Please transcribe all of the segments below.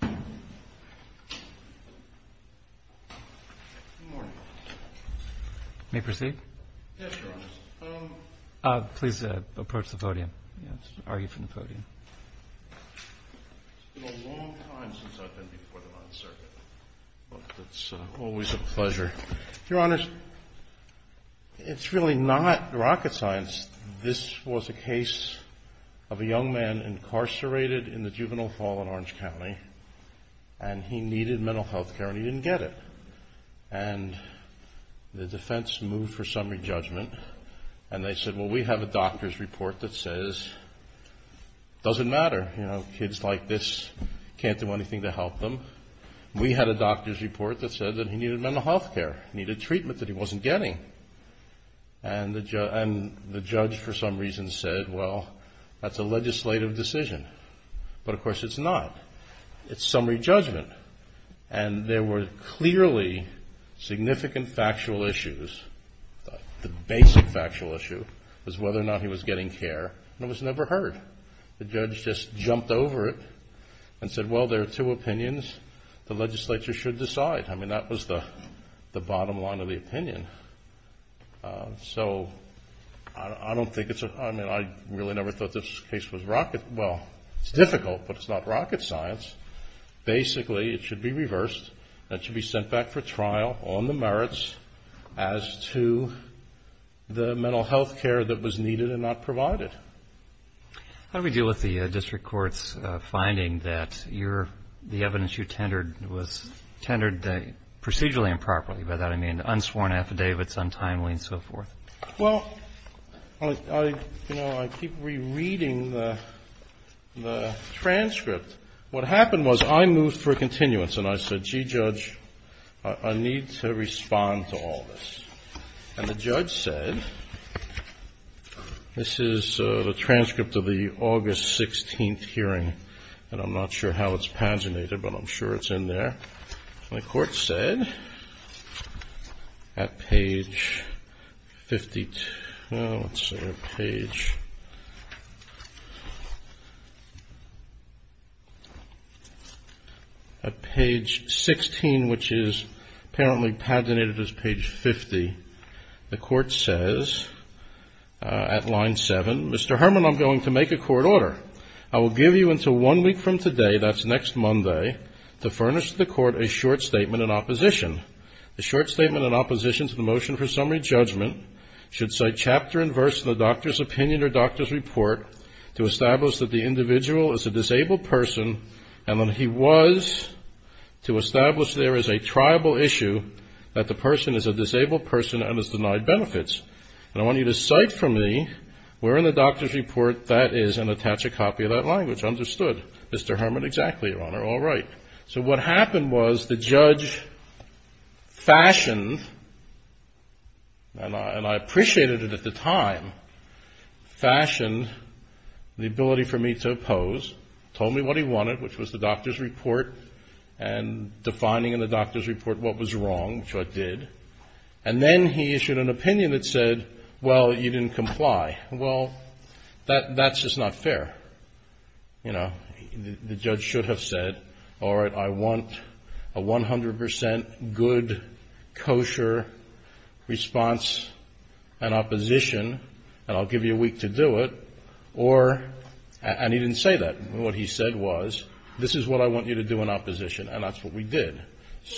Good morning. May I proceed? Yes, Your Honor. Please approach the podium. It's been a long time since I've been before the Ninth Circuit, but it's always a pleasure. Your Honors, it's really not rocket science. This was a case of a young man incarcerated in the Juvenile Hall in Orange County, and he needed mental health care, and he didn't get it. And the defense moved for summary judgment, and they said, well, we have a doctor's report that says it doesn't matter. You know, kids like this can't do anything to help them. We had a doctor's report that said that he needed mental health care, needed treatment that he wasn't getting. And the judge, for some reason, said, well, that's a legislative decision. But, of course, it's not. It's summary judgment. And there were clearly significant factual issues. The basic factual issue was whether or not he was getting care, and it was never heard. The judge just jumped over it and said, well, there are two opinions. The legislature should decide. I mean, that was the bottom line of the opinion. So I don't think it's a – I mean, I really never thought this case was rocket – well, it's difficult, but it's not rocket science. Basically, it should be reversed. That should be sent back for trial on the merits as to the mental health care that was needed and not provided. How do we deal with the district court's finding that your – the evidence you tendered was tendered procedurally improperly? By that, I mean unsworn affidavits, untimely, and so forth. Well, you know, I keep rereading the transcript. What happened was I moved for a continuance, and I said, gee, Judge, I need to respond to all this. And the judge said – this is the transcript of the August 16th hearing, and I'm not sure how it's paginated, but I'm sure it's in there. The court said at page – well, let's see, page – at page 16, which is apparently paginated as page 50, the court says at line 7, Mr. Herman, I'm going to make a court order. I will give you until one week from today, that's next Monday, to furnish to the court a short statement in opposition. The short statement in opposition to the motion for summary judgment should cite chapter and verse in the doctor's opinion or doctor's report to establish that the individual is a disabled person and that he was to establish there is a tribal issue that the person is a disabled person and is denied benefits. And I want you to cite for me where in the doctor's report that is and attach a copy of that language. Understood. Mr. Herman, exactly, Your Honor. All right. So what happened was the judge fashioned, and I appreciated it at the time, fashioned the ability for me to oppose, told me what he wanted, which was the doctor's report and defining in the doctor's report what was wrong, which I did. And then he issued an opinion that said, well, you didn't comply. Well, that's just not fair. You know, the judge should have said, all right, I want a 100 percent good, kosher response in opposition, and I'll give you a week to do it. Or, and he didn't say that. What he said was, this is what I want you to do in opposition. And that's what we did.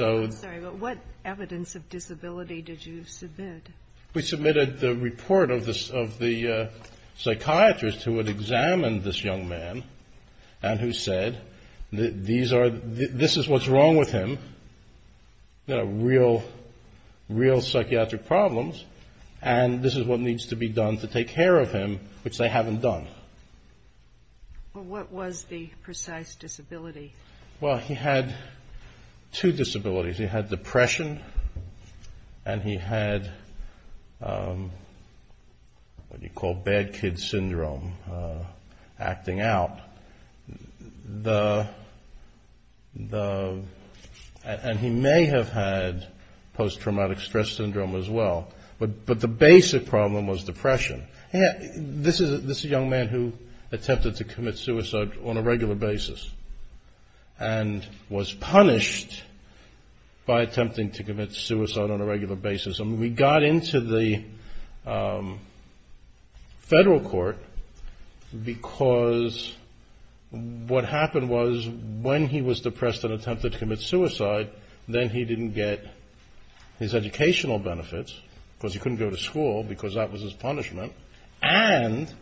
I'm sorry, but what evidence of disability did you submit? We submitted the report of the psychiatrist who had examined this young man and who said, these are, this is what's wrong with him. Real, real psychiatric problems. And this is what needs to be done to take care of him, which they haven't done. Well, what was the precise disability? Well, he had two disabilities. He had depression, and he had what you call bad kid syndrome acting out. And he may have had post-traumatic stress syndrome as well. But the basic problem was depression. This is a young man who attempted to commit suicide on a regular basis and was punished by attempting to commit suicide on a regular basis. And we got into the federal court because what happened was when he was depressed and attempted to commit suicide, then he didn't get his educational benefits, because he couldn't go to school, because that was his punishment, and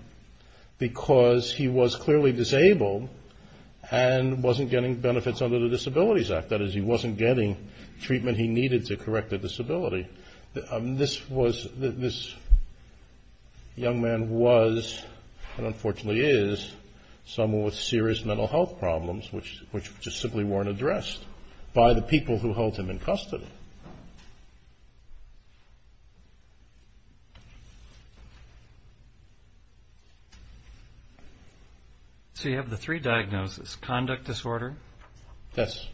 because he was clearly disabled and wasn't getting benefits under the Disabilities Act. That is, he wasn't getting treatment he needed to correct the disability. This was, this young man was, and unfortunately is, someone with serious mental health problems, which just simply weren't addressed by the people who held him in custody. So you have the three diagnoses, conduct disorder. Yes.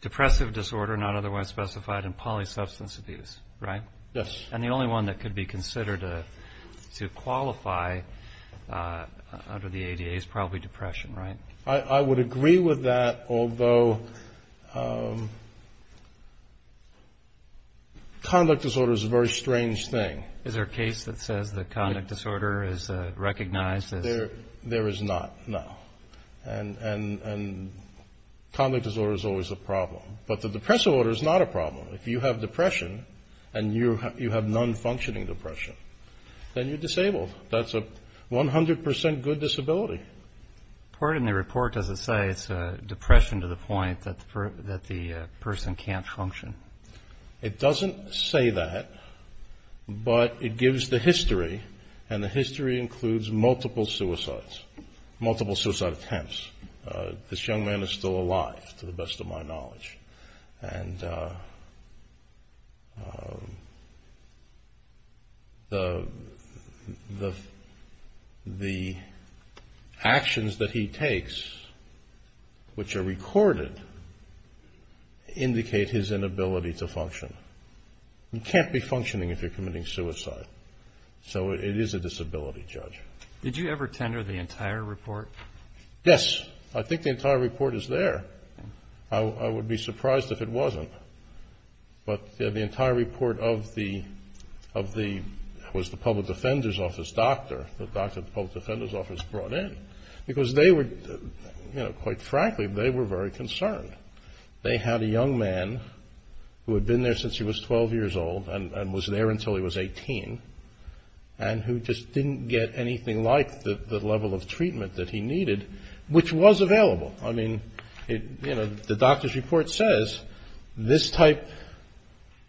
Depressive disorder, not otherwise specified, and polysubstance abuse, right? Yes. And the only one that could be considered to qualify under the ADA is probably depression, right? I would agree with that, although conduct disorder is a very strange thing. Is there a case that says that conduct disorder is recognized as? There is not, no. And conduct disorder is always a problem. But the depressive disorder is not a problem. If you have depression and you have non-functioning depression, then you're disabled. That's a 100% good disability. Part of the report doesn't say it's depression to the point that the person can't function. It doesn't say that, but it gives the history, and the history includes multiple suicides, multiple suicide attempts. This young man is still alive, to the best of my knowledge. And the actions that he takes, which are recorded, indicate his inability to function. You can't be functioning if you're committing suicide. So it is a disability, Judge. Did you ever tender the entire report? Yes. I think the entire report is there. I would be surprised if it wasn't. But the entire report of the, was the public defender's office doctor, the doctor the public defender's office brought in, because they were, you know, quite frankly, they were very concerned. They had a young man who had been there since he was 12 years old and was there until he was 18, and who just didn't get anything like the level of treatment that he needed, which was available. I mean, you know, the doctor's report says this type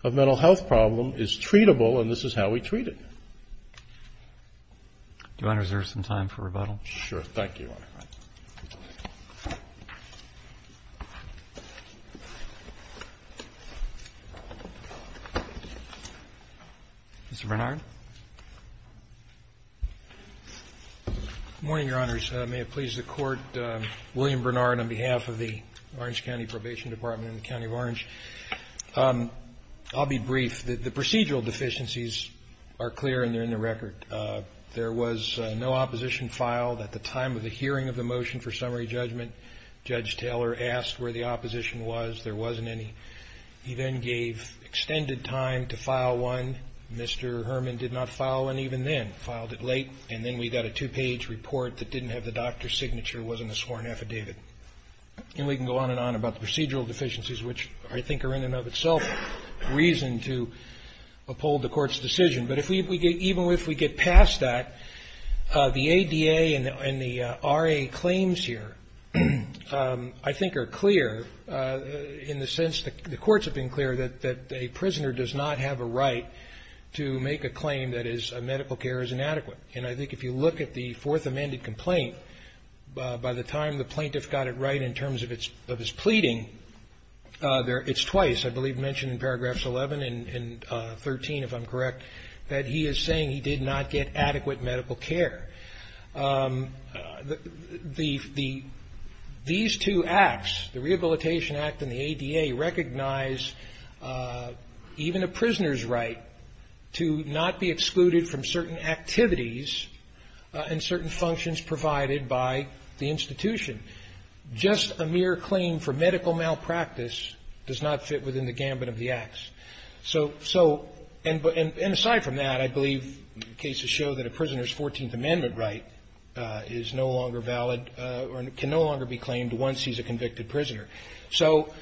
of mental health problem is treatable, and this is how we treat it. Do you want to reserve some time for rebuttal? Sure. Thank you, Your Honor. Mr. Bernard? Good morning, Your Honors. May it please the Court. William Bernard on behalf of the Orange County Probation Department in the County of Orange. I'll be brief. The procedural deficiencies are clear and they're in the record. There was no opposition filed at the time of the hearing of the motion for summary judgment. Judge Taylor asked where the opposition was. There wasn't any. He then gave extended time to file one. Mr. Herman did not file one even then, filed it late, and then we got a two-page report that didn't have the doctor's signature, wasn't a sworn affidavit. And we can go on and on about the procedural deficiencies, which I think are in and of itself reason to uphold the Court's decision. But even if we get past that, the ADA and the RA claims here I think are clear in the sense that the courts have been clear that a prisoner does not have a right to make a claim that his medical care is inadequate. And I think if you look at the Fourth Amended Complaint, by the time the plaintiff got it right in terms of his pleading, it's twice I believe mentioned in paragraphs 11 and 13, if I'm correct, that he is saying he did not get adequate medical care. These two acts, the Rehabilitation Act and the ADA, recognize even a prisoner's right to not be excluded from certain activities and certain functions provided by the institution. Just a mere claim for medical malpractice does not fit within the gambit of the acts. So aside from that, I believe cases show that a prisoner's Fourteenth Amendment right is no longer valid or can no longer be claimed once he's a convicted prisoner. So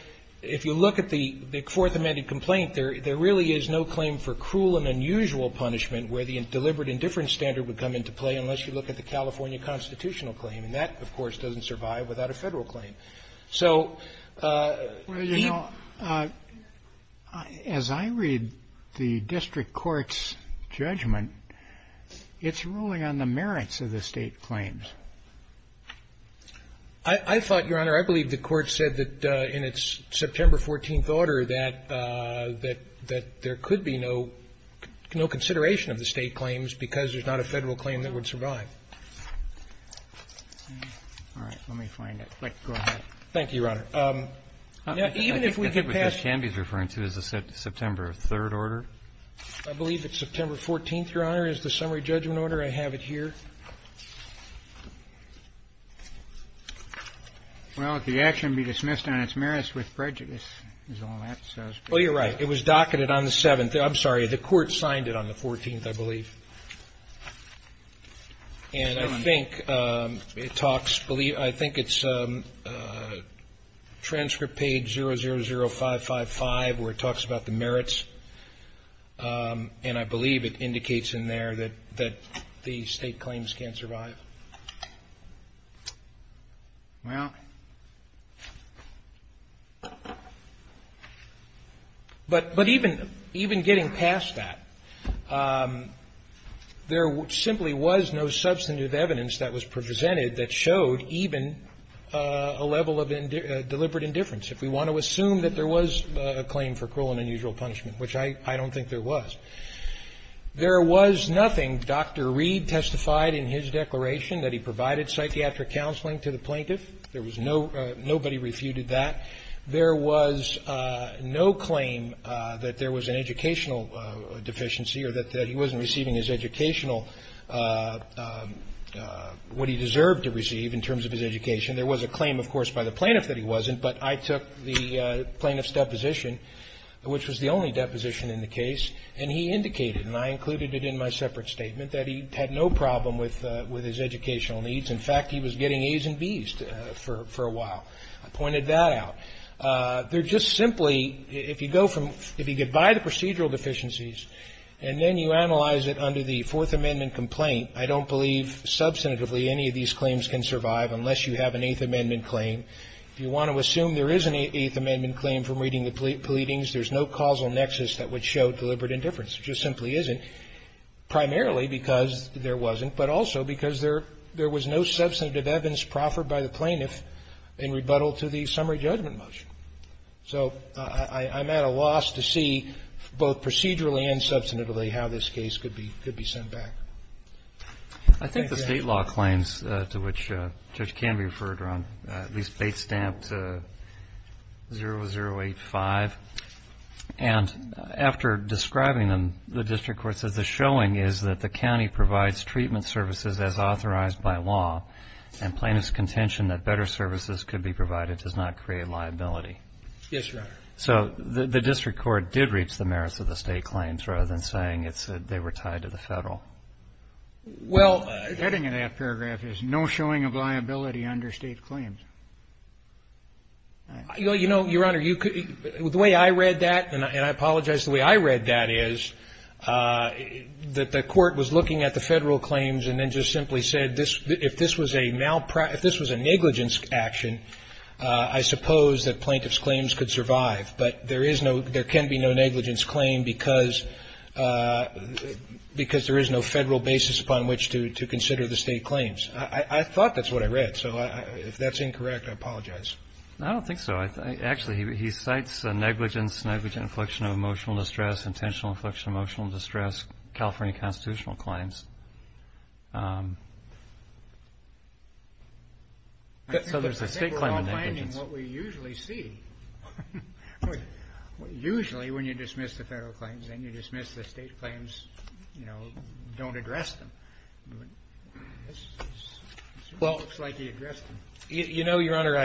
if you look at the Fourth Amended Complaint, there really is no claim for cruel and unusual punishment where the deliberate indifference standard would come into play unless you look at the California constitutional claim. And that, of course, doesn't survive without a Federal claim. So the ---- Roberts. Well, you know, as I read the district court's judgment, it's ruling on the merits of the State claims. I thought, Your Honor, I believe the Court said that in its September 14th order that there could be no consideration of the State claims because there's not a Federal claim that would survive. All right. Let me find it. Go ahead. Thank you, Your Honor. Even if we could pass ---- I think what Judge Canby is referring to is the September 3rd order. I believe it's September 14th, Your Honor, is the summary judgment order. I have it here. Well, if the action be dismissed on its merits with prejudice is all that says. Well, you're right. It was docketed on the 7th. I'm sorry. The Court signed it on the 14th, I believe. And I think it talks ---- I think it's transcript page 000555 where it talks about the merits. And I believe it indicates in there that the State claims can't survive. Well. But even getting past that, there simply was no substantive evidence that was presented that showed even a level of deliberate indifference. If we want to assume that there was a claim for cruel and unusual punishment, which I don't think there was, there was nothing. When Dr. Reed testified in his declaration that he provided psychiatric counseling to the plaintiff, there was no ---- nobody refuted that. There was no claim that there was an educational deficiency or that he wasn't receiving his educational ---- what he deserved to receive in terms of his education. There was a claim, of course, by the plaintiff that he wasn't, but I took the plaintiff's deposition, which was the only deposition in the case, and he indicated, and I included it in my separate statement, that he had no problem with his educational needs. In fact, he was getting A's and B's for a while. I pointed that out. They're just simply ---- if you go from ---- if you get by the procedural deficiencies and then you analyze it under the Fourth Amendment complaint, I don't believe substantively any of these claims can survive unless you have an Eighth Amendment claim. If you want to assume there is an Eighth Amendment claim from reading the pleadings, there's no causal nexus that would show deliberate indifference. There just simply isn't, primarily because there wasn't, but also because there was no substantive evidence proffered by the plaintiff in rebuttal to the summary judgment motion. So I'm at a loss to see, both procedurally and substantively, how this case could be sent back. Thank you, Your Honor. Kennedy. I think the State law claims to which Judge Canby referred are on, at least, 085, and after describing them, the district court says the showing is that the county provides treatment services as authorized by law, and plaintiff's contention that better services could be provided does not create liability. Yes, Your Honor. So the district court did reach the merits of the State claims rather than saying they were tied to the Federal. Well ---- The heading of that paragraph is no showing of liability under State claims. You know, Your Honor, the way I read that, and I apologize, the way I read that is that the court was looking at the Federal claims and then just simply said if this was a negligence action, I suppose that plaintiff's claims could survive, but there can be no negligence claim because there is no Federal basis upon which to consider the State claims. I thought that's what I read. So if that's incorrect, I apologize. I don't think so. Actually, he cites negligence, negligent infliction of emotional distress, intentional infliction of emotional distress, California constitutional claims. So there's a State claim of negligence. I think we're not finding what we usually see. Usually when you dismiss the Federal claims and you dismiss the State claims, you know, don't address them. Well ---- It looks like he addressed them. You know, Your Honor,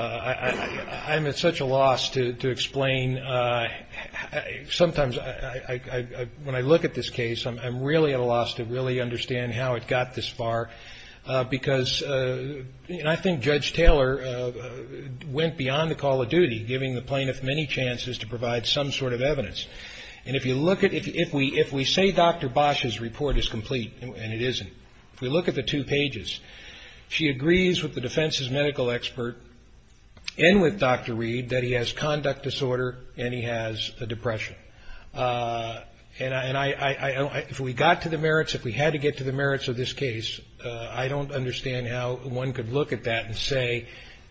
I'm at such a loss to explain. Sometimes when I look at this case, I'm really at a loss to really understand how it got this far, because I think Judge Taylor went beyond the call of duty, giving the plaintiff many chances to provide some sort of evidence. And if you look at ---- if we say Dr. Bosch's report is complete, and it isn't, if we look at the two pages, she agrees with the defense's medical expert and with Dr. Reed that he has conduct disorder and he has a depression. And I ---- if we got to the merits, if we had to get to the merits of this case, I don't understand how one could look at that and say,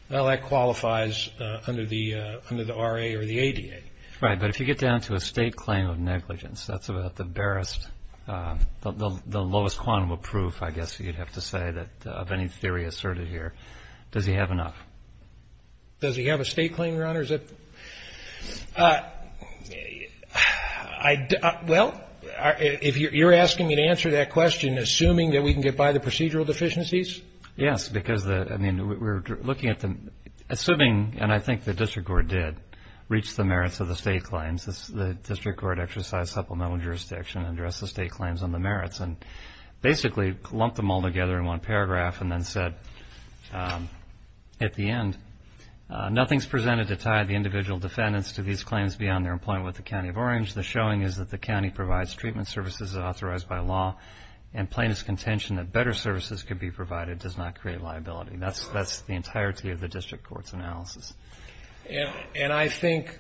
well, that qualifies under the RA or the ADA. Right. But if you get down to a State claim of negligence, that's about the barest ---- the lowest quantum of proof, I guess you'd have to say, that of any theory asserted here, does he have enough? Does he have a State claim, Your Honor? Is that ---- I ---- well, if you're asking me to answer that question, assuming that we can get by the procedural deficiencies? Yes, because the ---- I mean, we're looking at the ---- assuming, and I think the district court did, reach the merits of the State claims. The district court exercised supplemental jurisdiction and addressed the State claims on the merits and basically lumped them all together in one paragraph and then said at the end, nothing's presented to tie the individual defendants to these claims beyond their employment with the County of Orange. The showing is that the county provides treatment services authorized by law and plaintiff's contention that better services could be provided does not create liability. That's the entirety of the district court's analysis. And I think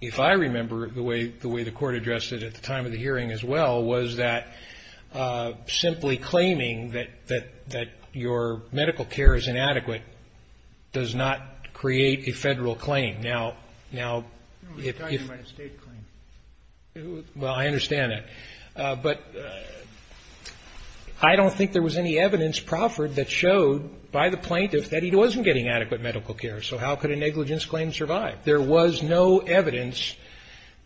if I remember the way the court addressed it at the time of the hearing as well was that simply claiming that your medical care is inadequate does not create a Federal claim. Now, if ---- No, we're talking about a State claim. Well, I understand that. But I don't think there was any evidence, Crawford, that showed by the plaintiff that he wasn't getting adequate medical care, so how could a negligence claim survive? There was no evidence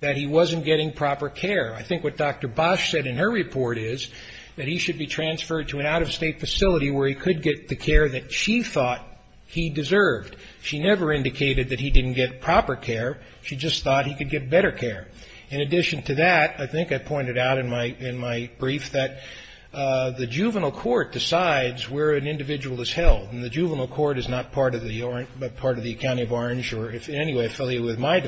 that he wasn't getting proper care. I think what Dr. Bosch said in her report is that he should be transferred to an out-of-State facility where he could get the care that she thought he deserved. She never indicated that he didn't get proper care. She just thought he could get better care. In addition to that, I think I pointed out in my brief that the juvenile court decides where an individual is held. And the juvenile court is not part of the county of Orange or in any way affiliated with my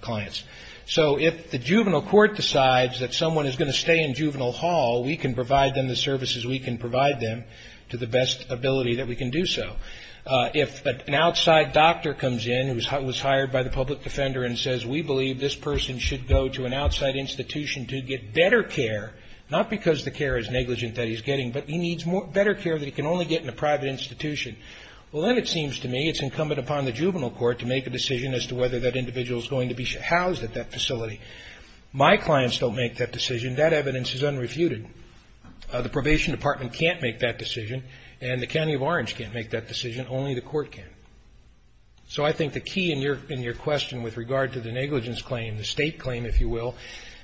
clients. So if the juvenile court decides that someone is going to stay in juvenile hall, we can provide them the services we can provide them to the best ability that we can do so. If an outside doctor comes in who was hired by the public defender and says, we believe this person should go to an outside institution to get better care, not because the care is negligent that he's getting, but he needs better care that he can only get in a private institution, well then it seems to me it's incumbent upon the juvenile court to make a decision as to whether that individual is going to be housed at that facility. My clients don't make that decision. That evidence is unrefuted. The probation department can't make that decision and the county of Orange can't make that decision. Only the court can. So I think the key in your question with regard to the negligence claim, the State claim, if you will,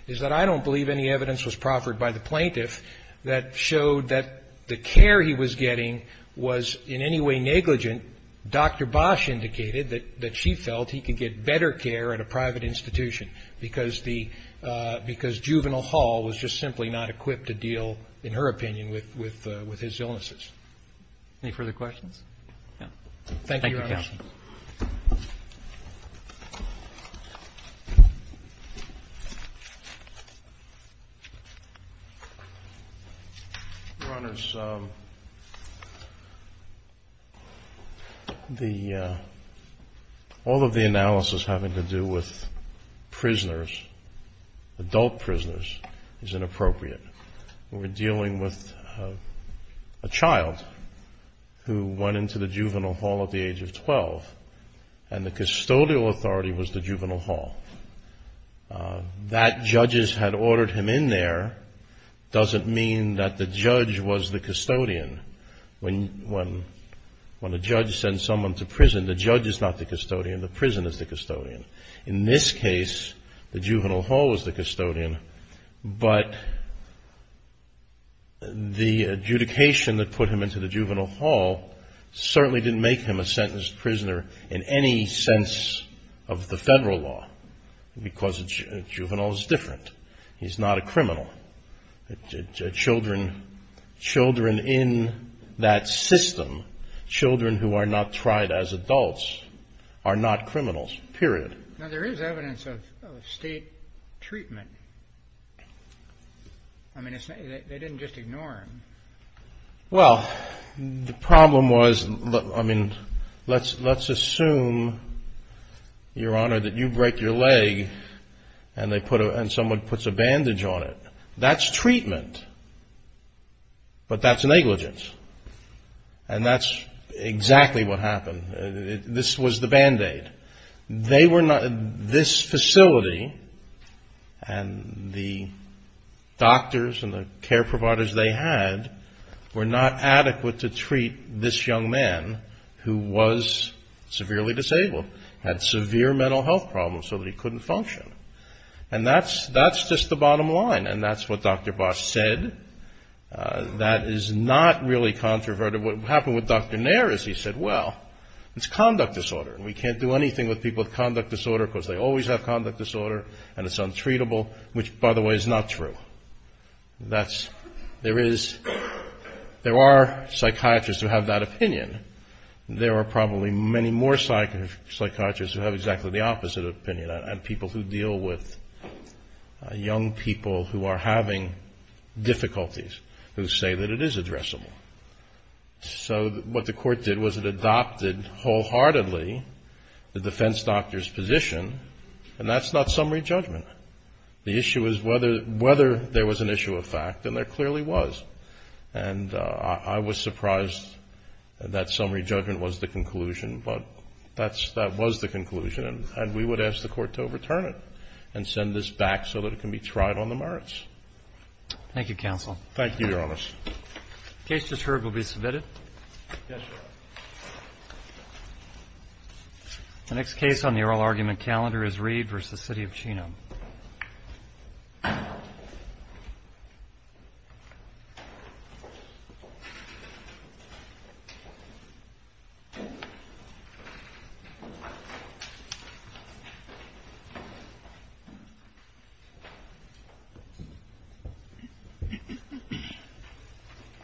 is that I don't believe any evidence was proffered by the plaintiff that showed that the care he was getting was in any way negligent. Dr. Bosch indicated that she felt he could get better care at a private institution because the ‑‑ because juvenile hall was just simply not equipped to deal, in her opinion, with his illnesses. Any further questions? Yeah. Thank you, Your Honor. Thank you, Counsel. Your Honors, the ‑‑ all of the analysis having to do with prisoners, adult prisoners, is inappropriate. We're dealing with a child who went into the juvenile hall at the age of 12 and the custodial authority was the juvenile hall. That judges had ordered him in there doesn't mean that the judge was the custodian. When a judge sends someone to prison, the judge is not the custodian. The prison is the custodian. In this case, the juvenile hall was the custodian, but the adjudication that put him into the juvenile hall certainly didn't make him a sentenced prisoner in any sense of the federal law because a juvenile is different. He's not a criminal. Children in that system, children who are not tried as adults, are not criminals, period. Now, there is evidence of state treatment. I mean, they didn't just ignore him. Well, the problem was, I mean, let's assume, Your Honor, that you break your leg and someone puts a bandage on it. That's treatment, but that's negligence, and that's exactly what happened. This was the Band-Aid. They were not, this facility and the doctors and the care providers they had were not adequate to treat this young man who was severely disabled, had severe mental health problems so that he couldn't function. And that's just the bottom line, and that's what Dr. Bosch said. That is not really controverted. What happened with Dr. Nair is he said, well, it's conduct disorder, and we can't do anything with people with conduct disorder because they always have conduct disorder, and it's untreatable, which, by the way, is not true. That's, there is, there are psychiatrists who have that opinion. There are probably many more psychiatrists who have exactly the opposite opinion, and people who deal with young people who are having difficulties who say that it is addressable. So what the Court did was it adopted wholeheartedly the defense doctor's position, and that's not summary judgment. The issue is whether there was an issue of fact, and there clearly was. And I was surprised that summary judgment was the conclusion, but that was the conclusion, and we would ask the Court to overturn it and send this back so that it can be tried on the merits. Thank you, counsel. Thank you, Your Honor. The case just heard will be submitted. Yes, Your Honor. The next case on the oral argument calendar is Reed v. City of Chino.